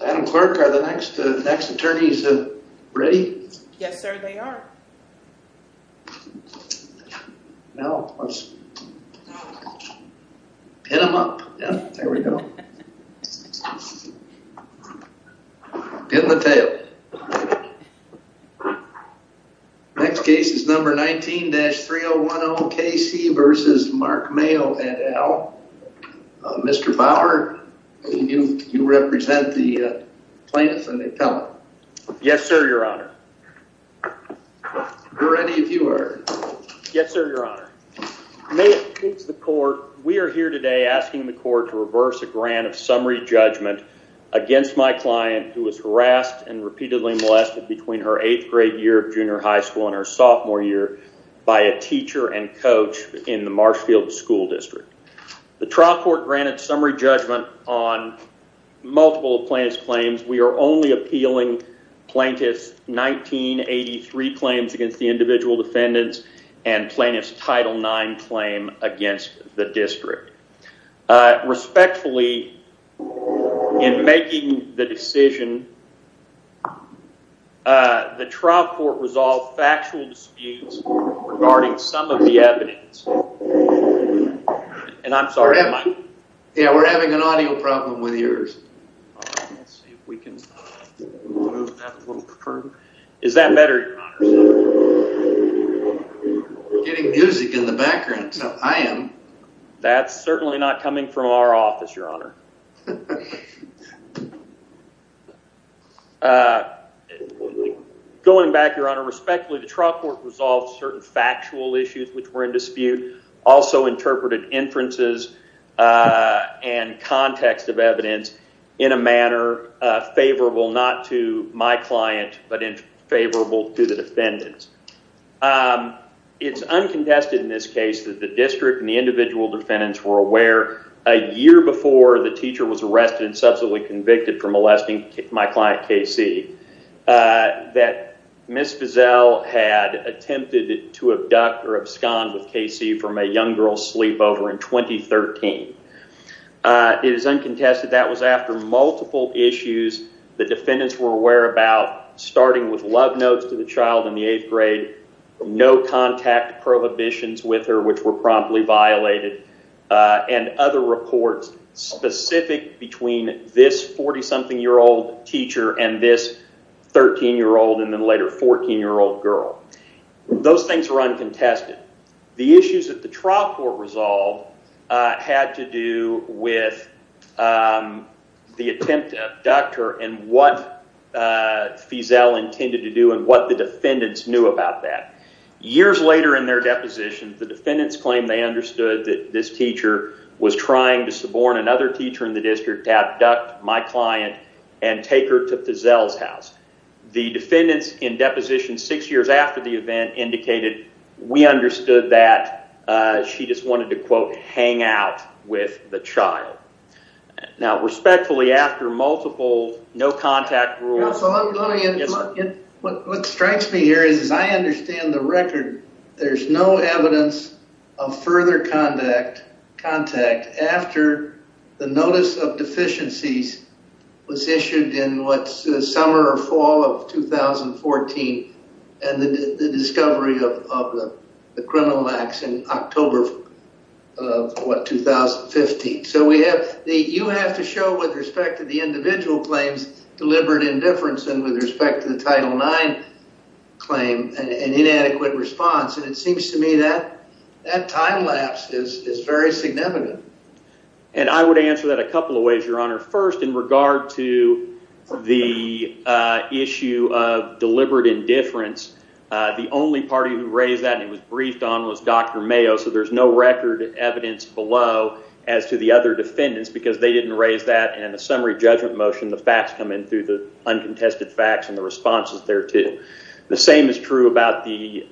Adam Clark are the next next attorneys ready? Yes, sir. They are Now Pin them up. Yeah, there we go In the tail Next case is number 19-3010 KC versus Mark Mayo et al Mr. Bauer you you represent the plaintiffs and the appellant. Yes, sir, your honor We're ready if you are Yes, sir, your honor May it please the court. We are here today asking the court to reverse a grant of summary judgment Against my client who was harassed and repeatedly molested between her eighth grade year of junior high school in her sophomore year By a teacher and coach in the Marshfield school district the trial court granted summary judgment on Multiple plaintiff's claims. We are only appealing plaintiff's 1983 claims against the individual defendants and plaintiff's title 9 claim against the district Respectfully in making the decision The trial court was all factual disputes regarding some of the evidence And I'm sorry, yeah, we're having an audio problem with yours Is that better Getting music in the background. So I am that's certainly not coming from our office your honor Going Back your honor respectfully the trial court resolved certain factual issues which were in dispute also interpreted inferences and context of evidence in a manner Favorable not to my client but in favorable to the defendants It's uncontested in this case that the district and the individual defendants were aware a year before the teacher was arrested and subsequently convicted for molesting my client Casey That miss Fizel had attempted to abduct or abscond with Casey from a young girl's sleep over in 2013 It is uncontested. That was after multiple issues. The defendants were aware about Starting with love notes to the child in the eighth grade No contact prohibitions with her which were promptly violated and other reports Specific between this 40-something year old teacher and this 13 year old and then later 14 year old girl Those things were uncontested the issues that the trial court resolved had to do with The attempt to abduct her and what Fizel intended to do and what the defendants knew about that Years later in their deposition the defendants claim they understood that this teacher Was trying to suborn another teacher in the district to abduct my client and take her to Fizel's house The defendants in deposition six years after the event indicated we understood that She just wanted to quote hang out with the child Now respectfully after multiple no contact rules But what strikes me here is as I understand the record there's no evidence of further contact contact after the notice of deficiencies was issued in what's the summer or fall of 2014 and the discovery of the criminal acts in October What? 2015 so we have the you have to show with respect to the individual claims deliberate indifference and with respect to the title 9 Claim and inadequate response and it seems to me that that time lapse is is very significant and I would answer that a couple of ways your honor first in regard to the issue of deliberate indifference The only party who raised that and it was briefed on was dr. Mayo So there's no record evidence below as to the other defendants because they didn't raise that and a summary judgment motion the facts come in through the uncontested facts and the responses there to the same is true about the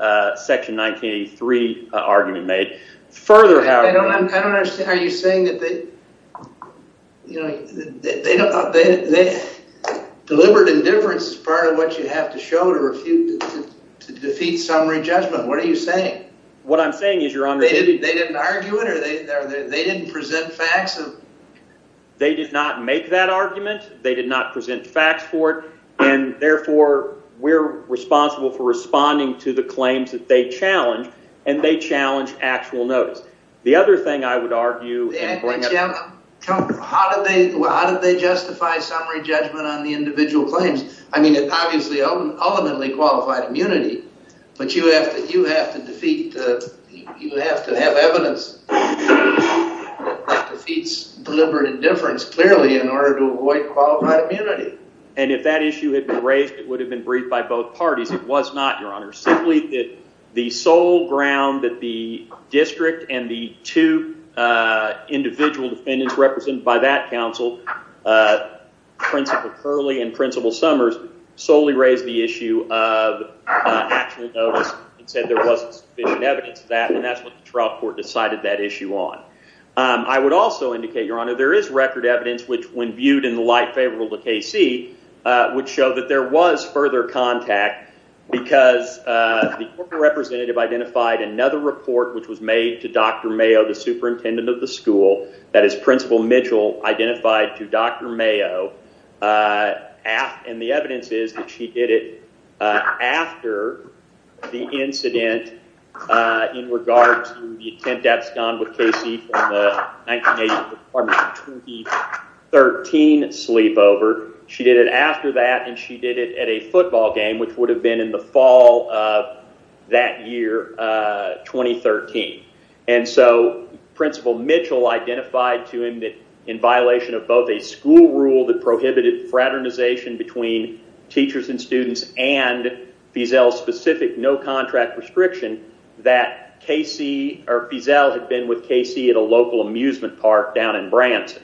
section 1983 argument made further Deliberate indifference is part of what you have to show to refute Defeat summary judgment. What are you saying? What I'm saying is you're on they didn't argue it or they they didn't present facts of They did not make that argument. They did not present facts for it and therefore We're responsible for responding to the claims that they challenged and they challenged actual notice the other thing I would argue How did they how did they justify summary judgment on the individual claims I mean it obviously ultimately qualified immunity, but you have to you have to defeat You have to have evidence Defeats deliberate indifference clearly in order to avoid qualified immunity And if that issue had been raised it would have been briefed by both parties It was not your honor simply that the sole ground that the district and the two individual defendants represented by that council Principal Curley and principal Summers solely raised the issue of Decided that issue on I would also indicate your honor. There is record evidence, which when viewed in the light favorable to Casey Would show that there was further contact because The representative identified another report which was made to dr. Mayo the superintendent of the school that is principal Mitchell Identified to dr. Mayo And the evidence is that she did it after the incident in regards to the attempt that's gone with Casey 13 sleepover she did it after that and she did it at a football game which would have been in the fall of that year 2013 and so principal Mitchell identified to him that violation of both a school rule that prohibited fraternization between teachers and students and Fiesel specific no contract restriction that Casey or Fiesel had been with Casey at a local amusement park down in Branson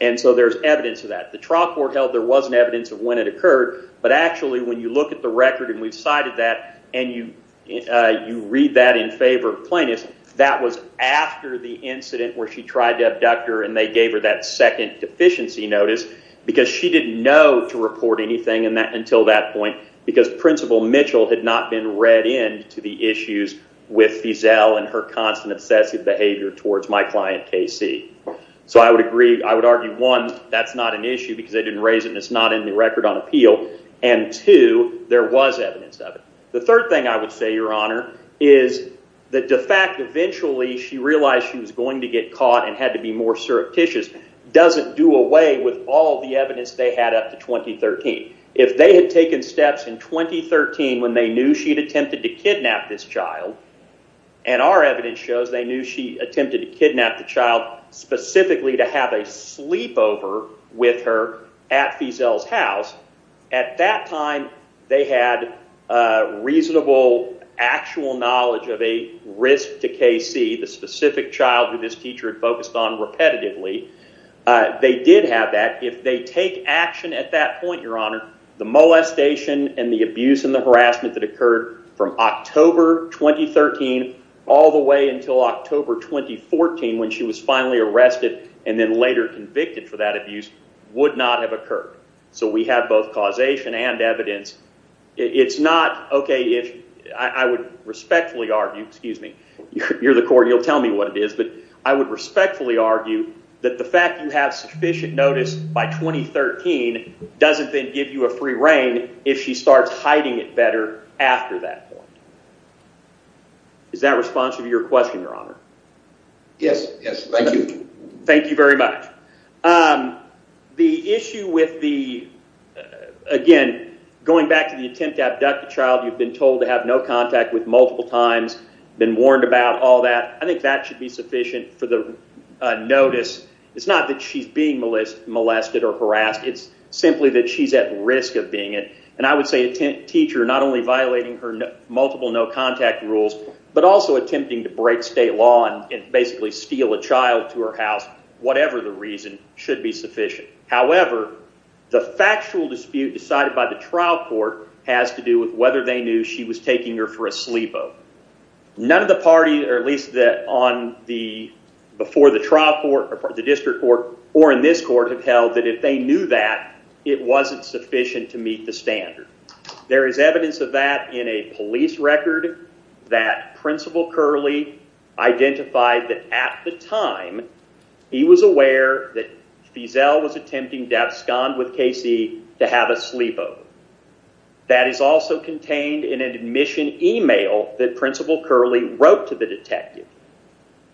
And so there's evidence of that the trial court held there wasn't evidence of when it occurred but actually when you look at the record and we've cited that and you You read that in favor of plaintiffs that was after the incident where she tried to abduct her and they gave her that second deficiency notice because she didn't know to report anything and that until that point because Principal Mitchell had not been read in to the issues with Fiesel and her constant obsessive behavior towards my client Casey So I would agree. I would argue one That's not an issue because they didn't raise it and it's not in the record on appeal and to there was evidence of it the third thing I would say your honor is That the fact eventually she realized she was going to get caught and had to be more surreptitious Doesn't do away with all the evidence they had up to 2013 if they had taken steps in 2013 when they knew she had attempted to kidnap this child and our evidence shows they knew she attempted to kidnap the child Specifically to have a sleepover with her at Fiesel's house at that time. They had Reasonable actual knowledge of a risk to Casey the specific child who this teacher had focused on repetitively They did have that if they take action at that point your honor the molestation and the abuse and the harassment that occurred from October 2013 all the way until October 2014 when she was finally arrested and then later convicted for that abuse would not have occurred So we have both causation and evidence It's not okay if I would respectfully argue, excuse me, you're the court You'll tell me what it is, but I would respectfully argue that the fact you have sufficient notice by 2013 doesn't then give you a free rein if she starts hiding it better after that point Is that response of your question your honor? Yes. Yes. Thank you. Thank you very much the issue with the Again going back to the attempt to abduct the child You've been told to have no contact with multiple times been warned about all that. I think that should be sufficient for the Notice, it's not that she's being molested or harassed It's simply that she's at risk of being it and I would say a teacher not only violating her multiple No contact rules, but also attempting to break state law and basically steal a child to her house Whatever the reason should be sufficient However, the factual dispute decided by the trial court has to do with whether they knew she was taking her for a sleepover none of the party or at least that on the Before the trial court or the district court or in this court have held that if they knew that It wasn't sufficient to meet the standard. There is evidence of that in a police record that principal Curley Identified that at the time He was aware that Fizel was attempting to abscond with Casey to have a sleepover That is also contained in an admission email that principal Curley wrote to the detective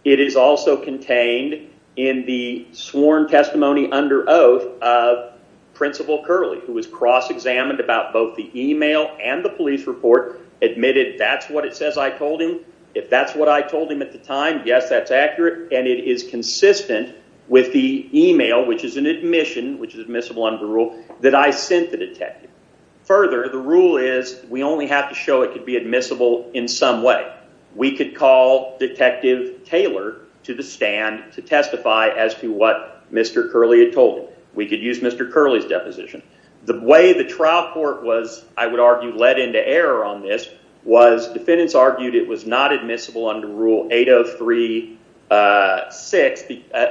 it is also contained in the sworn testimony under oath of Principal Curley who was cross-examined about both the email and the police report Admitted that's what it says. I told him if that's what I told him at the time Yes, that's accurate and it is consistent with the email, which is an admission Which is admissible under rule that I sent the detective Further the rule is we only have to show it could be admissible in some way we could call Detective Taylor to the stand to testify as to what mr. Curley had told we could use mr Curley's deposition the way the trial court was I would argue led into error on this was Defendants argued it was not admissible under rule 803 6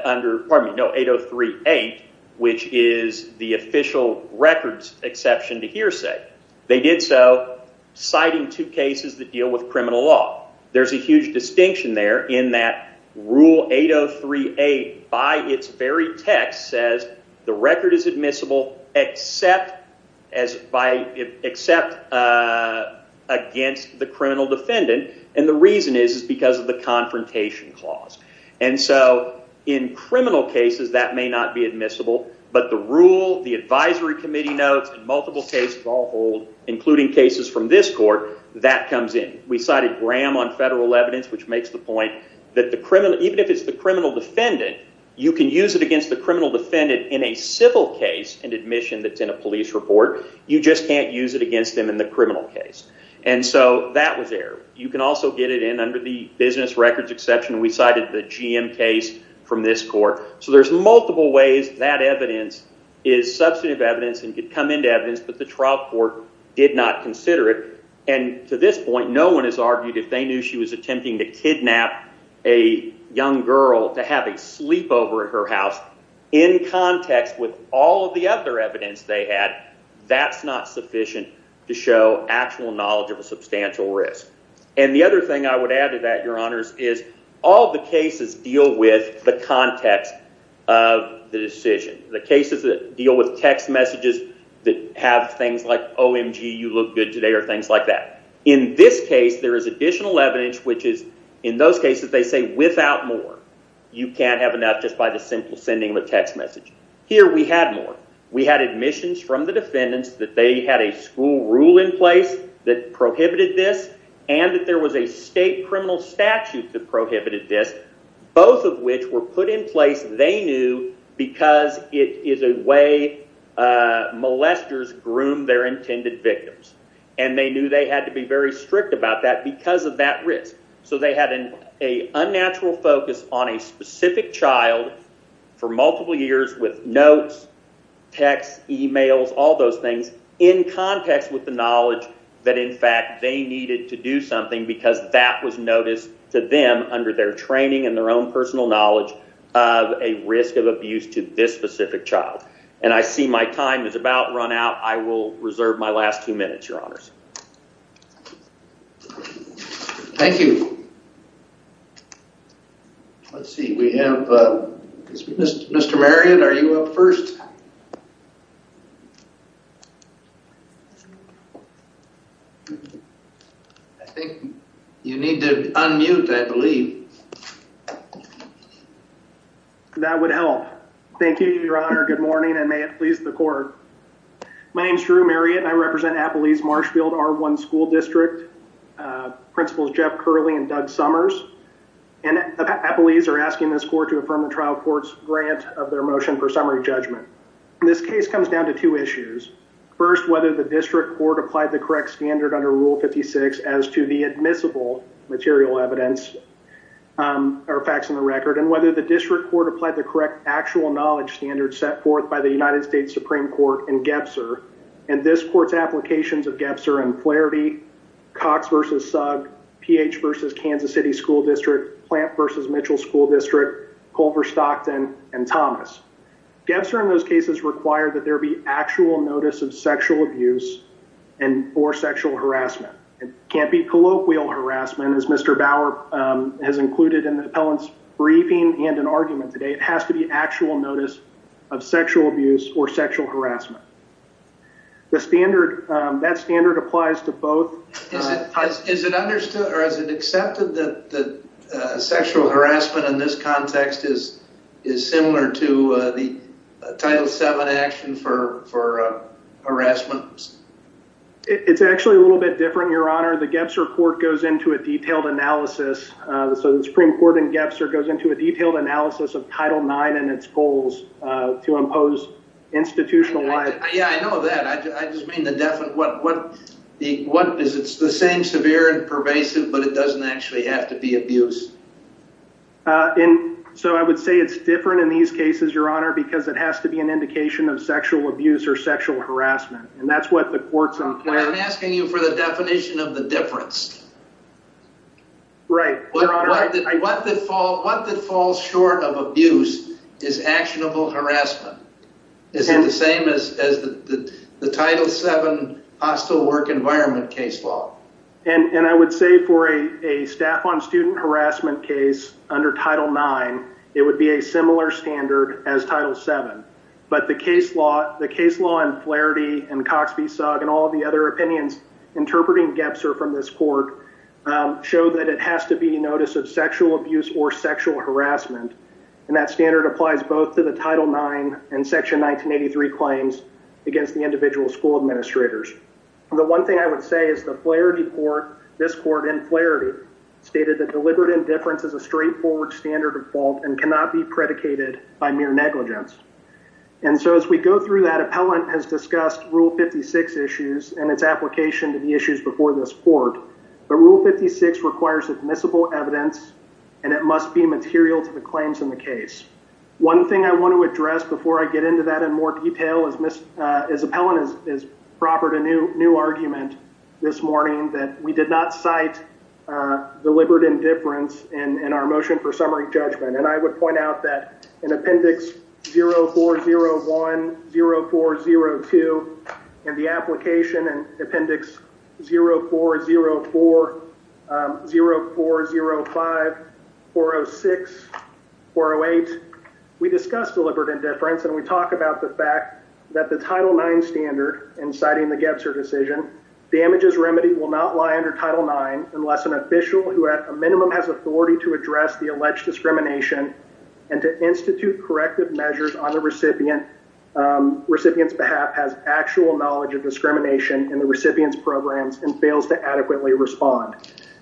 under pardon me no 803 8 which is the official records exception to hearsay They did so Citing two cases that deal with criminal law. There's a huge distinction there in that rule 803 a by its very text says the record is admissible except as by except Against the criminal defendant and the reason is is because of the confrontation clause and so in Criminal cases that may not be admissible But the rule the Advisory Committee notes and multiple cases all old Including cases from this court that comes in we cited Graham on federal evidence Which makes the point that the criminal even if it's the criminal defendant You can use it against the criminal defendant in a civil case and admission that's in a police report You just can't use it against them in the criminal case And so that was there you can also get it in under the business records exception We cited the GM case from this court So there's multiple ways that evidence is substantive evidence and could come into evidence but the trial court did not consider it and to this point no one has argued if they knew she was attempting to kidnap a young girl to have a sleepover at her house in Context with all of the other evidence they had that's not sufficient to show actual knowledge of a substantial risk and the other thing I would add to that your honors is all the cases deal with the context of The decision the cases that deal with text messages that have things like OMG You look good today or things like that in this case. There is additional evidence Which is in those cases they say without more you can't have enough just by the simple sending the text messages Here we had more we had admissions from the defendants that they had a school rule in place that Prohibited this and that there was a state criminal statute that prohibited this both of which were put in place They knew because it is a way Molesters groomed their intended victims and they knew they had to be very strict about that because of that risk So they had an a unnatural focus on a specific child For multiple years with notes text emails all those things in Context with the knowledge that in fact they needed to do something because that was noticed to them under their training and their own Personal knowledge of a risk of abuse to this specific child and I see my time is about run out I will reserve my last two minutes your honors Thank you Let's see, we have mr. Marriott, are you up first? I think you need to unmute I believe That would help thank you your honor good morning and may it please the court My name is Drew Marriott. I represent Appalese Marshfield our one school district Principals Jeff Curley and Doug Summers and Appalese are asking this court to affirm the trial court's grant of their motion for summary judgment This case comes down to two issues First whether the district court applied the correct standard under rule 56 as to the admissible material evidence our facts in the record and whether the district court applied the correct actual knowledge standards set forth by the United States Supreme Court and Applied the correct standard under rule 56 as to the admissible material evidence such as clarity Cox versus sub pH versus Kansas City School District plant versus Mitchell School District Culver Stockton and Thomas Debs are in those cases require that there be actual notice of sexual abuse and Or sexual harassment. It can't be colloquial harassment as mr. Bauer Has included in the appellant's briefing and an argument today it has to be actual notice of sexual abuse or sexual harassment the standard that standard applies to both is it understood or is it accepted that the sexual harassment in this context is is similar to the title 7 action for harassment It's actually a little bit different your honor. The gaps report goes into a detailed analysis So the Supreme Court and gaps or goes into a detailed analysis of title 9 and its goals to impose Institutionalized. Yeah, I know that I just mean the deafened what what the what is it's the same severe and pervasive But it doesn't actually have to be abused In so I would say it's different in these cases your honor because it has to be an indication of sexual abuse or sexual harassment And that's what the courts on plan asking you for the definition of the difference Right What the fall short of abuse is actionable harassment Is it the same as the title 7? Hostile work environment case law and and I would say for a a staff on student harassment case under title 9 It would be a similar standard as title 7 But the case law the case law and clarity and Cox v. Sugg and all the other opinions Interpreting gaps are from this court show that it has to be notice of sexual abuse or sexual harassment and that standard applies both to the title 9 and section 1983 claims Against the individual school administrators The one thing I would say is the clarity for this court and clarity stated that deliberate indifference is a straightforward standard of fault and cannot be predicated by mere negligence and Application to the issues before this court But rule 56 requires admissible evidence and it must be material to the claims in the case one thing I want to address before I get into that in more detail is miss as appellant is Proper to new new argument this morning that we did not cite Deliberate indifference and in our motion for summary judgment, and I would point out that in appendix 0 4 0 1 0 4 0 2 and the application and appendix 0 4 0 4 0 4 0 5 4 0 6 4 0 8 We discussed deliberate indifference and we talked about the fact that the title 9 standard and citing the Gebser decision Damages remedy will not lie under title 9 unless an official who at a minimum has authority to address the alleged discrimination and to institute corrective measures on the recipient Recipients behalf has actual knowledge of discrimination in the recipients programs and fails to adequately respond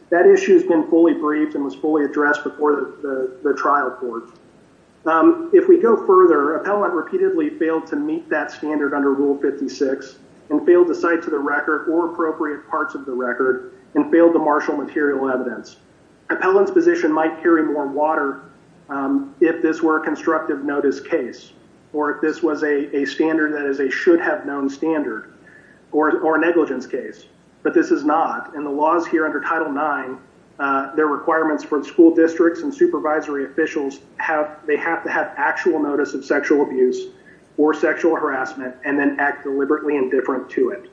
That issue has been fully briefed and was fully addressed before the trial court if we go further appellant repeatedly failed to meet that standard under rule 56 and failed to cite to the record or Appropriate parts of the record and failed to marshal material evidence Appellant's position might carry more water If this were a constructive notice case or if this was a standard that is a should-have-known standard Or a negligence case, but this is not and the laws here under title 9 their requirements for the school districts and supervisory officials have they have to have actual notice of sexual abuse or Sexual harassment and then act deliberately indifferent to it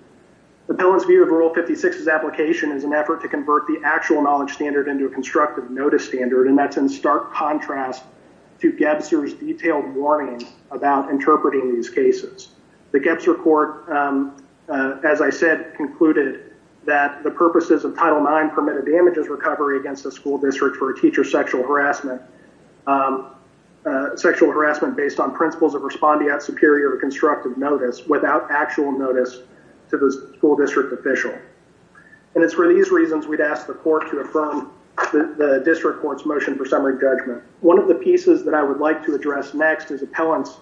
the balance view of rule 56 is application is an effort to convert the actual knowledge standard into a constructive notice standard and that's in Contrast to get serious detailed warnings about interpreting these cases the gaps report As I said concluded that the purposes of title 9 permitted damages recovery against the school district for a teacher sexual harassment Sexual harassment based on principles of responding at superior to constructive notice without actual notice to the school district official And it's for these reasons we'd ask the court to affirm The district courts motion for summary judgment. One of the pieces that I would like to address next is appellants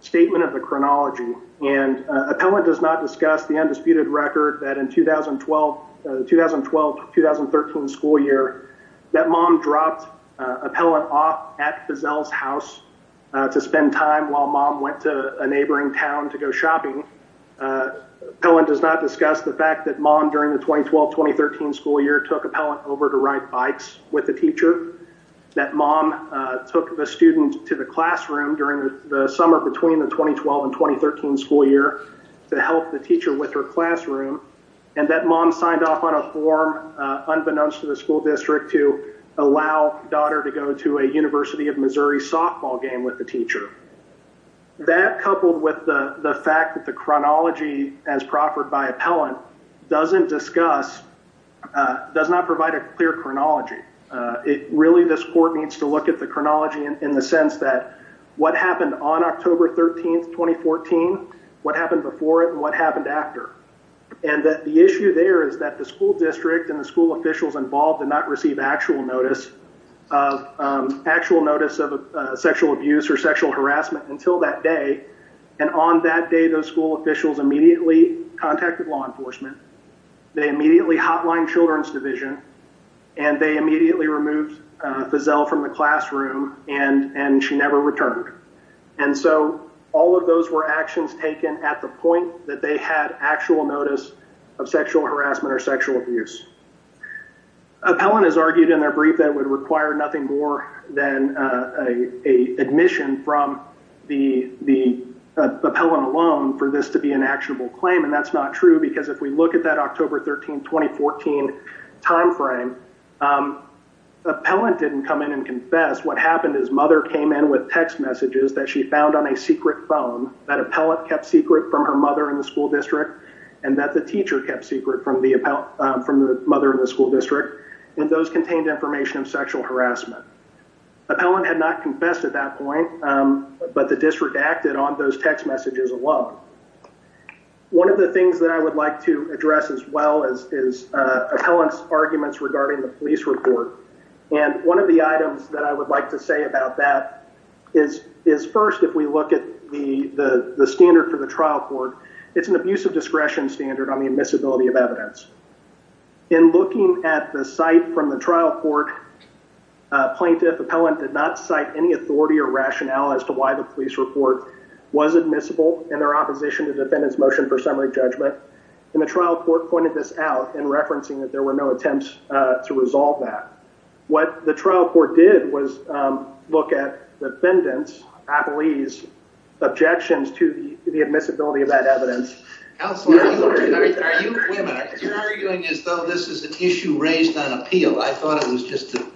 statement of the chronology and Appellant does not discuss the undisputed record that in 2012 2012 2013 school year that mom dropped Appellant off at Fizell's house to spend time while mom went to a neighboring town to go shopping No one does not discuss the fact that mom during the 2012 2013 school year took appellant over to ride bikes with the teacher That mom took the student to the classroom during the summer between the 2012 and 2013 school year To help the teacher with her classroom and that mom signed off on a form Unbeknownst to the school district to allow daughter to go to a University of Missouri softball game with the teacher That coupled with the the fact that the chronology as proffered by appellant doesn't discuss Does not provide a clear chronology It really this court needs to look at the chronology in the sense that what happened on October 13th 2014 what happened before it and what happened after and That the issue there is that the school district and the school officials involved did not receive actual notice of Actual notice of sexual abuse or sexual harassment until that day and on that day those school officials immediately contacted law enforcement they immediately hotline children's division and they immediately removed Fizell from the classroom and and she never returned and So all of those were actions taken at the point that they had actual notice of sexual harassment or sexual abuse Appellant has argued in their brief that would require nothing more than a admission from the the Appellant alone for this to be an actionable claim and that's not true because if we look at that October 13 2014 timeframe Appellant didn't come in and confess What happened his mother came in with text messages that she found on a secret phone that appellant kept secret from her mother in the School district and those contained information of sexual harassment Appellant had not confessed at that point, but the district acted on those text messages alone one of the things that I would like to address as well as is Appellant's arguments regarding the police report and one of the items that I would like to say about that is Is first if we look at the the standard for the trial court, it's an abuse of discretion standard on the admissibility of evidence In looking at the site from the trial court Plaintiff appellant did not cite any authority or rationale as to why the police report Was admissible in their opposition to defendants motion for summary judgment in the trial court pointed this out in Referencing that there were no attempts to resolve that what the trial court did was Look at the defendants appellees objections to the admissibility of that evidence Though this is an issue raised on appeal. I thought it was just a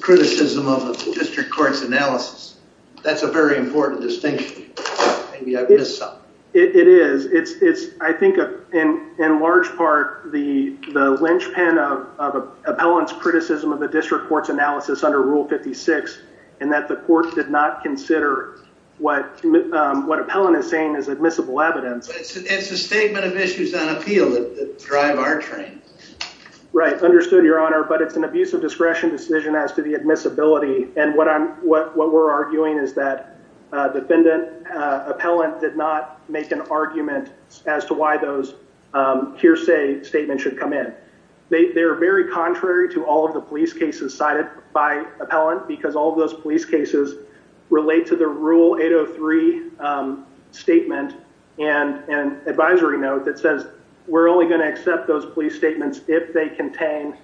Criticism of the district courts analysis. That's a very important distinction It is it's it's I think in in large part the the linchpin of appellants criticism of the district courts analysis under rule 56 and that the court did not consider what What appellant is saying is admissible evidence? It's a statement of issues on appeal that drive our train Right understood your honor, but it's an abuse of discretion decision as to the admissibility and what I'm what what we're arguing is that defendant Appellant did not make an argument as to why those Hearsay statement should come in. They're very contrary to all of the police cases cited by appellant because all those police cases relate to the rule 803 Statement and an advisory note that says we're only going to accept those police statements if they contain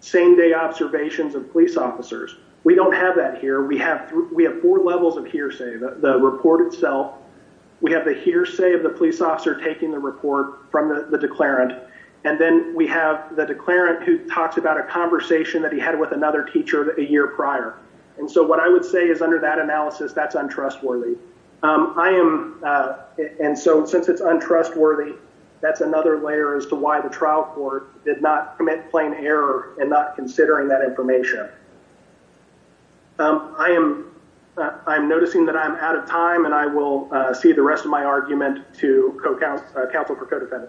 Same-day observations of police officers. We don't have that here. We have we have four levels of hearsay the report itself we have the hearsay of the police officer taking the report from the Declarant and then we have the declarant who talks about a conversation that he had with another teacher a year prior And so what I would say is under that analysis, that's untrustworthy I am And so since it's untrustworthy That's another layer as to why the trial court did not commit plain error and not considering that information I am I'm noticing that I'm out of time and I will see the rest of my argument to co-counsel counsel for codefendant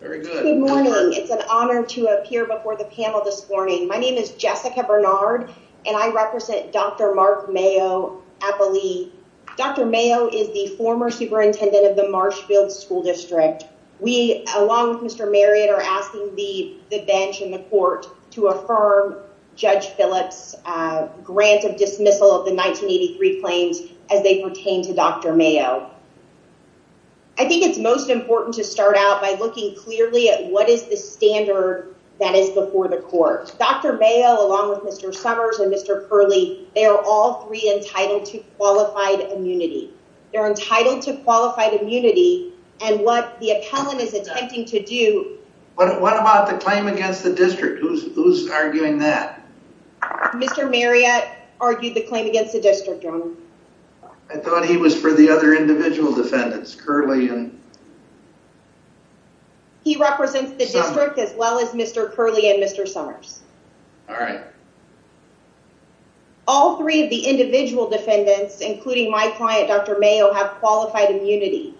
It's an honor to appear before the panel this morning, my name is Jessica Bernard and I represent dr Mayo Dr. Mayo is the former superintendent of the Marshfield School District. We along with mr Marriott are asking the bench in the court to affirm judge Phillips Grant of dismissal of the 1983 claims as they pertain to dr. Mayo. I Think it's most important to start out by looking clearly at what is the standard that is before the court dr Mayo along with mr. Summers and mr. Curley. They are all three entitled to qualified immunity They're entitled to qualified immunity and what the appellant is attempting to do What about the claim against the district who's arguing that? Mr. Marriott argued the claim against the district. I Thought he was for the other individual defendants curly and He represents the district as well as mr. Curley and mr. Summers All right All three of the individual defendants including my client dr. Mayo have qualified immunity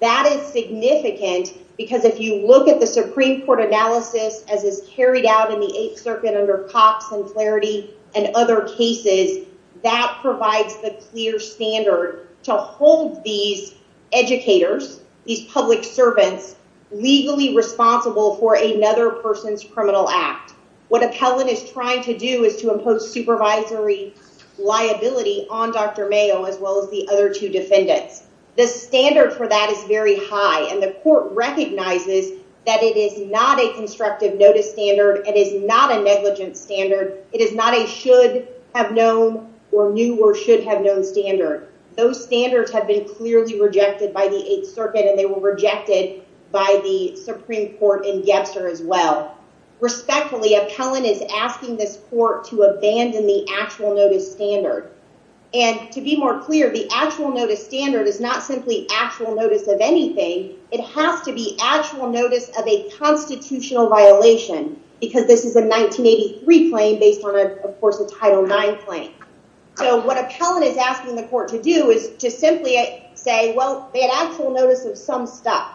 that is significant because if you look at the Supreme Court analysis as is carried out in the Eighth Circuit under cops and clarity and other cases that provides the clear standard to hold these educators these public servants Legally responsible for another person's criminal act what appellant is trying to do is to impose supervisory Liability on dr Mayo as well as the other two defendants the standard for that is very high and the court Recognizes that it is not a constructive notice standard. It is not a negligent standard It is not a should have known or knew or should have known standard Those standards have been clearly rejected by the Eighth Circuit and they were rejected by the Supreme Court in Gebser as well Respectfully appellant is asking this court to abandon the actual notice standard and to be more clear The actual notice standard is not simply actual notice of anything. It has to be actual notice of a Constitutional violation because this is a 1983 claim based on of course a title 9 claim So what appellant is asking the court to do is to simply say well, they had actual notice of some stuff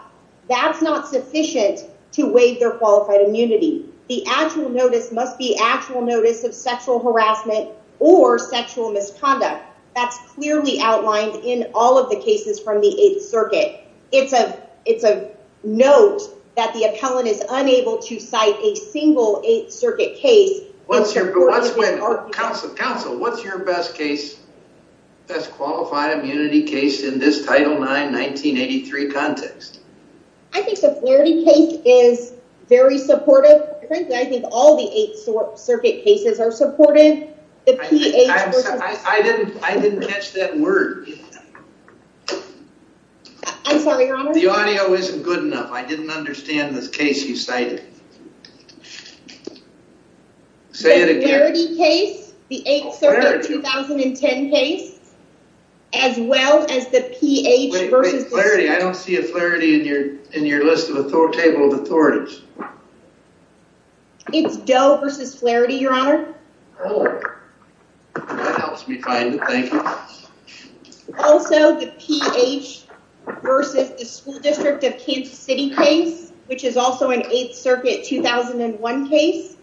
That's not sufficient to waive their qualified immunity the actual notice must be actual notice of sexual harassment or Sexual misconduct that's clearly outlined in all of the cases from the Eighth Circuit It's a it's a note that the appellant is unable to cite a single Eighth Circuit case What's your Counsel, what's your best case? That's qualified immunity case in this title 9 1983 context I think the Flaherty case is very supportive. I think all the Eighth Circuit cases are supportive I Didn't catch that word The audio isn't good enough I didn't understand this case you cited Case the 8th 2010 case as Well as the pH versus clarity. I don't see a clarity in your in your list of a full table of authorities It's dough versus clarity your honor Also the pH Versus the school district of Kansas City case, which is also an 8th Circuit 2001 case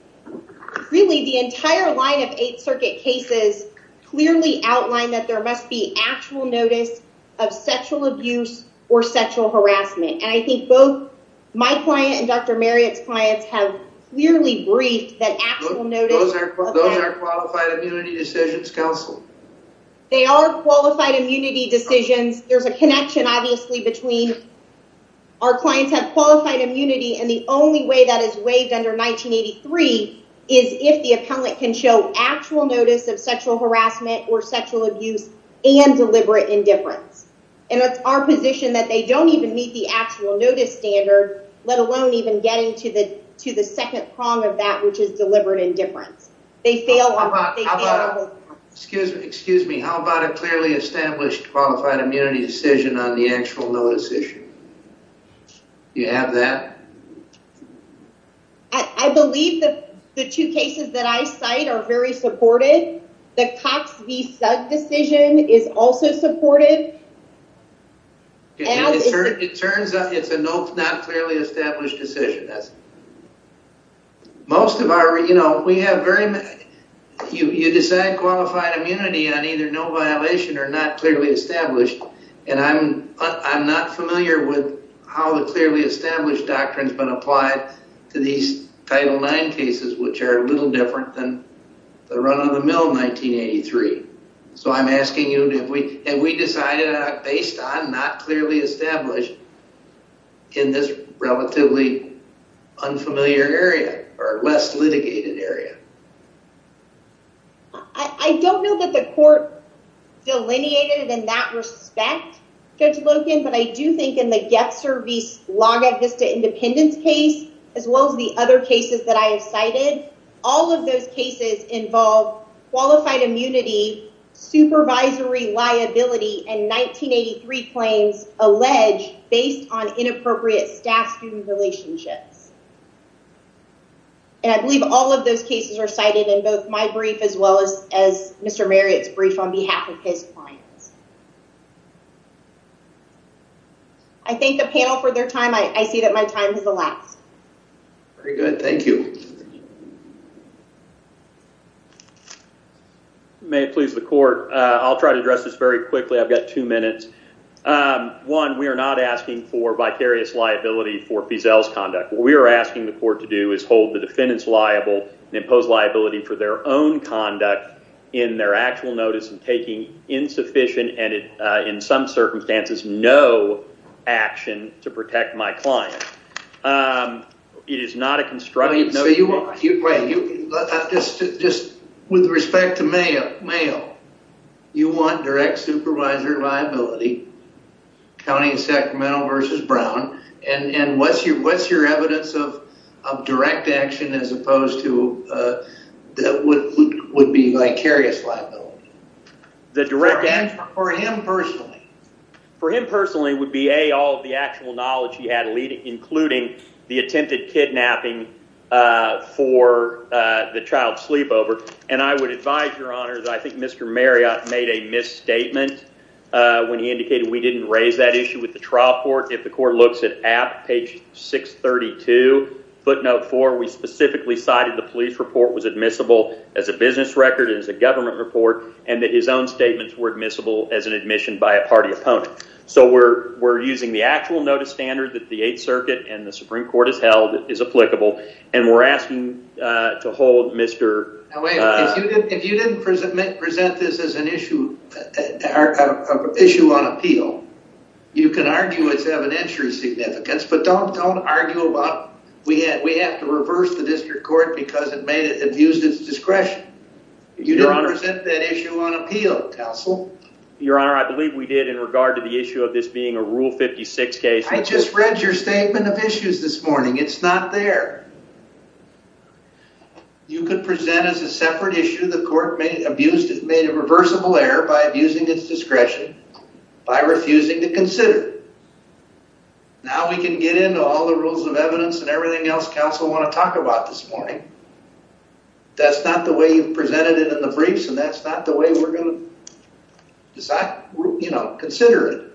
Really the entire line of 8th Circuit cases Clearly outlined that there must be actual notice of sexual abuse or sexual harassment And I think both my client and dr. Marriott's clients have clearly briefed that They are qualified immunity decisions, there's a connection obviously between Our clients have qualified immunity and the only way that is waived under 1983 is if the appellant can show actual notice of sexual harassment or sexual abuse and Deliberate indifference and it's our position that they don't even meet the actual notice standard Let alone even getting to the to the second prong of that which is deliberate indifference. They fail Excuse me, excuse me. How about a clearly established qualified immunity decision on the actual notice issue? You have that I Believe that the two cases that I cite are very supported the Cox v. Sugg decision is also supported It turns out it's a note not clearly established decision that's Most of our you know, we have very You you decide qualified immunity on either no violation or not clearly established and I'm I'm not familiar with how the clearly established doctrines been applied to these Title IX cases Which are a little different than the run-of-the-mill 1983 so I'm asking you if we and we decided based on not clearly established in this relatively unfamiliar area or less litigated area I Don't know that the court delineated in that respect Judge Loken, but I do think in the get service log of this to independence case as well as the other cases that I have cited all of those cases involve qualified immunity supervisory liability and 1983 claims alleged based on inappropriate staff-student relationships And I believe all of those cases are cited in both my brief as well as as mr. Marriott's brief on behalf of his clients. I Thank the panel for their time I see that my time to the last very good. Thank you May it please the court. I'll try to address this very quickly. I've got two minutes One we are not asking for vicarious liability for Feazell's conduct We are asking the court to do is hold the defendants liable and impose liability for their own conduct in their actual notice and taking Insufficient and in some circumstances no action to protect my client It is not a constructive Just with respect to Mayo Mayo You want direct supervisor liability County and Sacramento versus Brown and and what's your what's your evidence of? direct action as opposed to That would would be vicarious liability the direct and for him personally For him personally would be a all of the actual knowledge. He had leading including the attempted kidnapping for The child sleepover and I would advise your honor that I think mr. Marriott made a misstatement When he indicated we didn't raise that issue with the trial court if the court looks at app page 632 footnote for we specifically cited the police report was admissible as a business record as a government report and that his own Statements were admissible as an admission by a party opponent So we're we're using the actual notice standard that the Eighth Circuit and the Supreme Court has held is applicable and we're asking to hold mr. If you didn't present this as an issue Issue on appeal You can argue its evidentiary significance But don't don't argue about we had we have to reverse the district court because it made it abused its discretion You don't understand that issue on appeal counsel your honor I believe we did in regard to the issue of this being a rule 56 case I just read your statement of issues this morning. It's not there You could present as a separate issue the court made abused it made a reversible error by abusing its discretion by refusing to consider Now we can get into all the rules of evidence and everything else counsel want to talk about this morning That's not the way you've presented it in the briefs and that's not the way we're going to Decide you know consider it.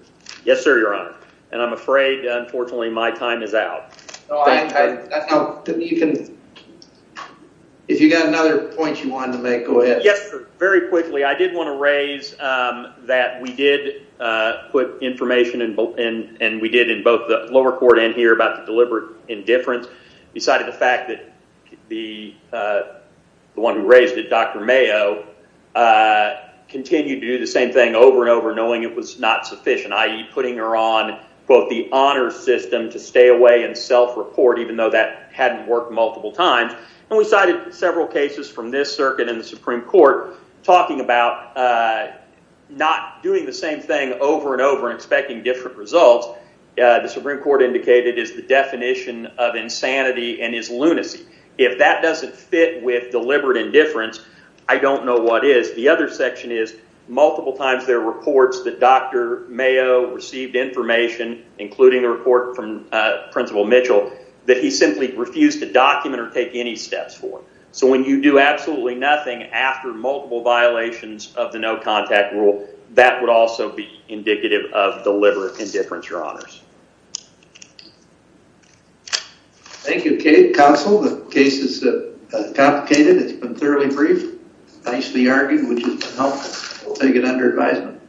Yes, sir. Your honor, and I'm afraid unfortunately my time is out You can If you got another point you wanted to make go ahead. Yes, sir. Very quickly. I did want to raise that we did put information and and and we did in both the lower court and here about the deliberate indifference beside of the fact that the The one who raised it. Dr. Mayo Continued to do the same thing over and over knowing it was not sufficient Putting her on both the honor system to stay away and self-report even though that hadn't worked multiple times And we cited several cases from this circuit in the Supreme Court talking about Not doing the same thing over and over inspecting different results The Supreme Court indicated is the definition of insanity and is lunacy if that doesn't fit with deliberate indifference I don't know. What is the other section is multiple times there reports that dr Mayo received information including the report from Principal Mitchell that he simply refused to document or take any steps for so when you do absolutely nothing after multiple Violations of the no contact rule that would also be indicative of deliberate indifference your honors Thank You Kate counsel the cases that Complicated it's been fairly brief nicely argued which is helpful. We'll take it under advisement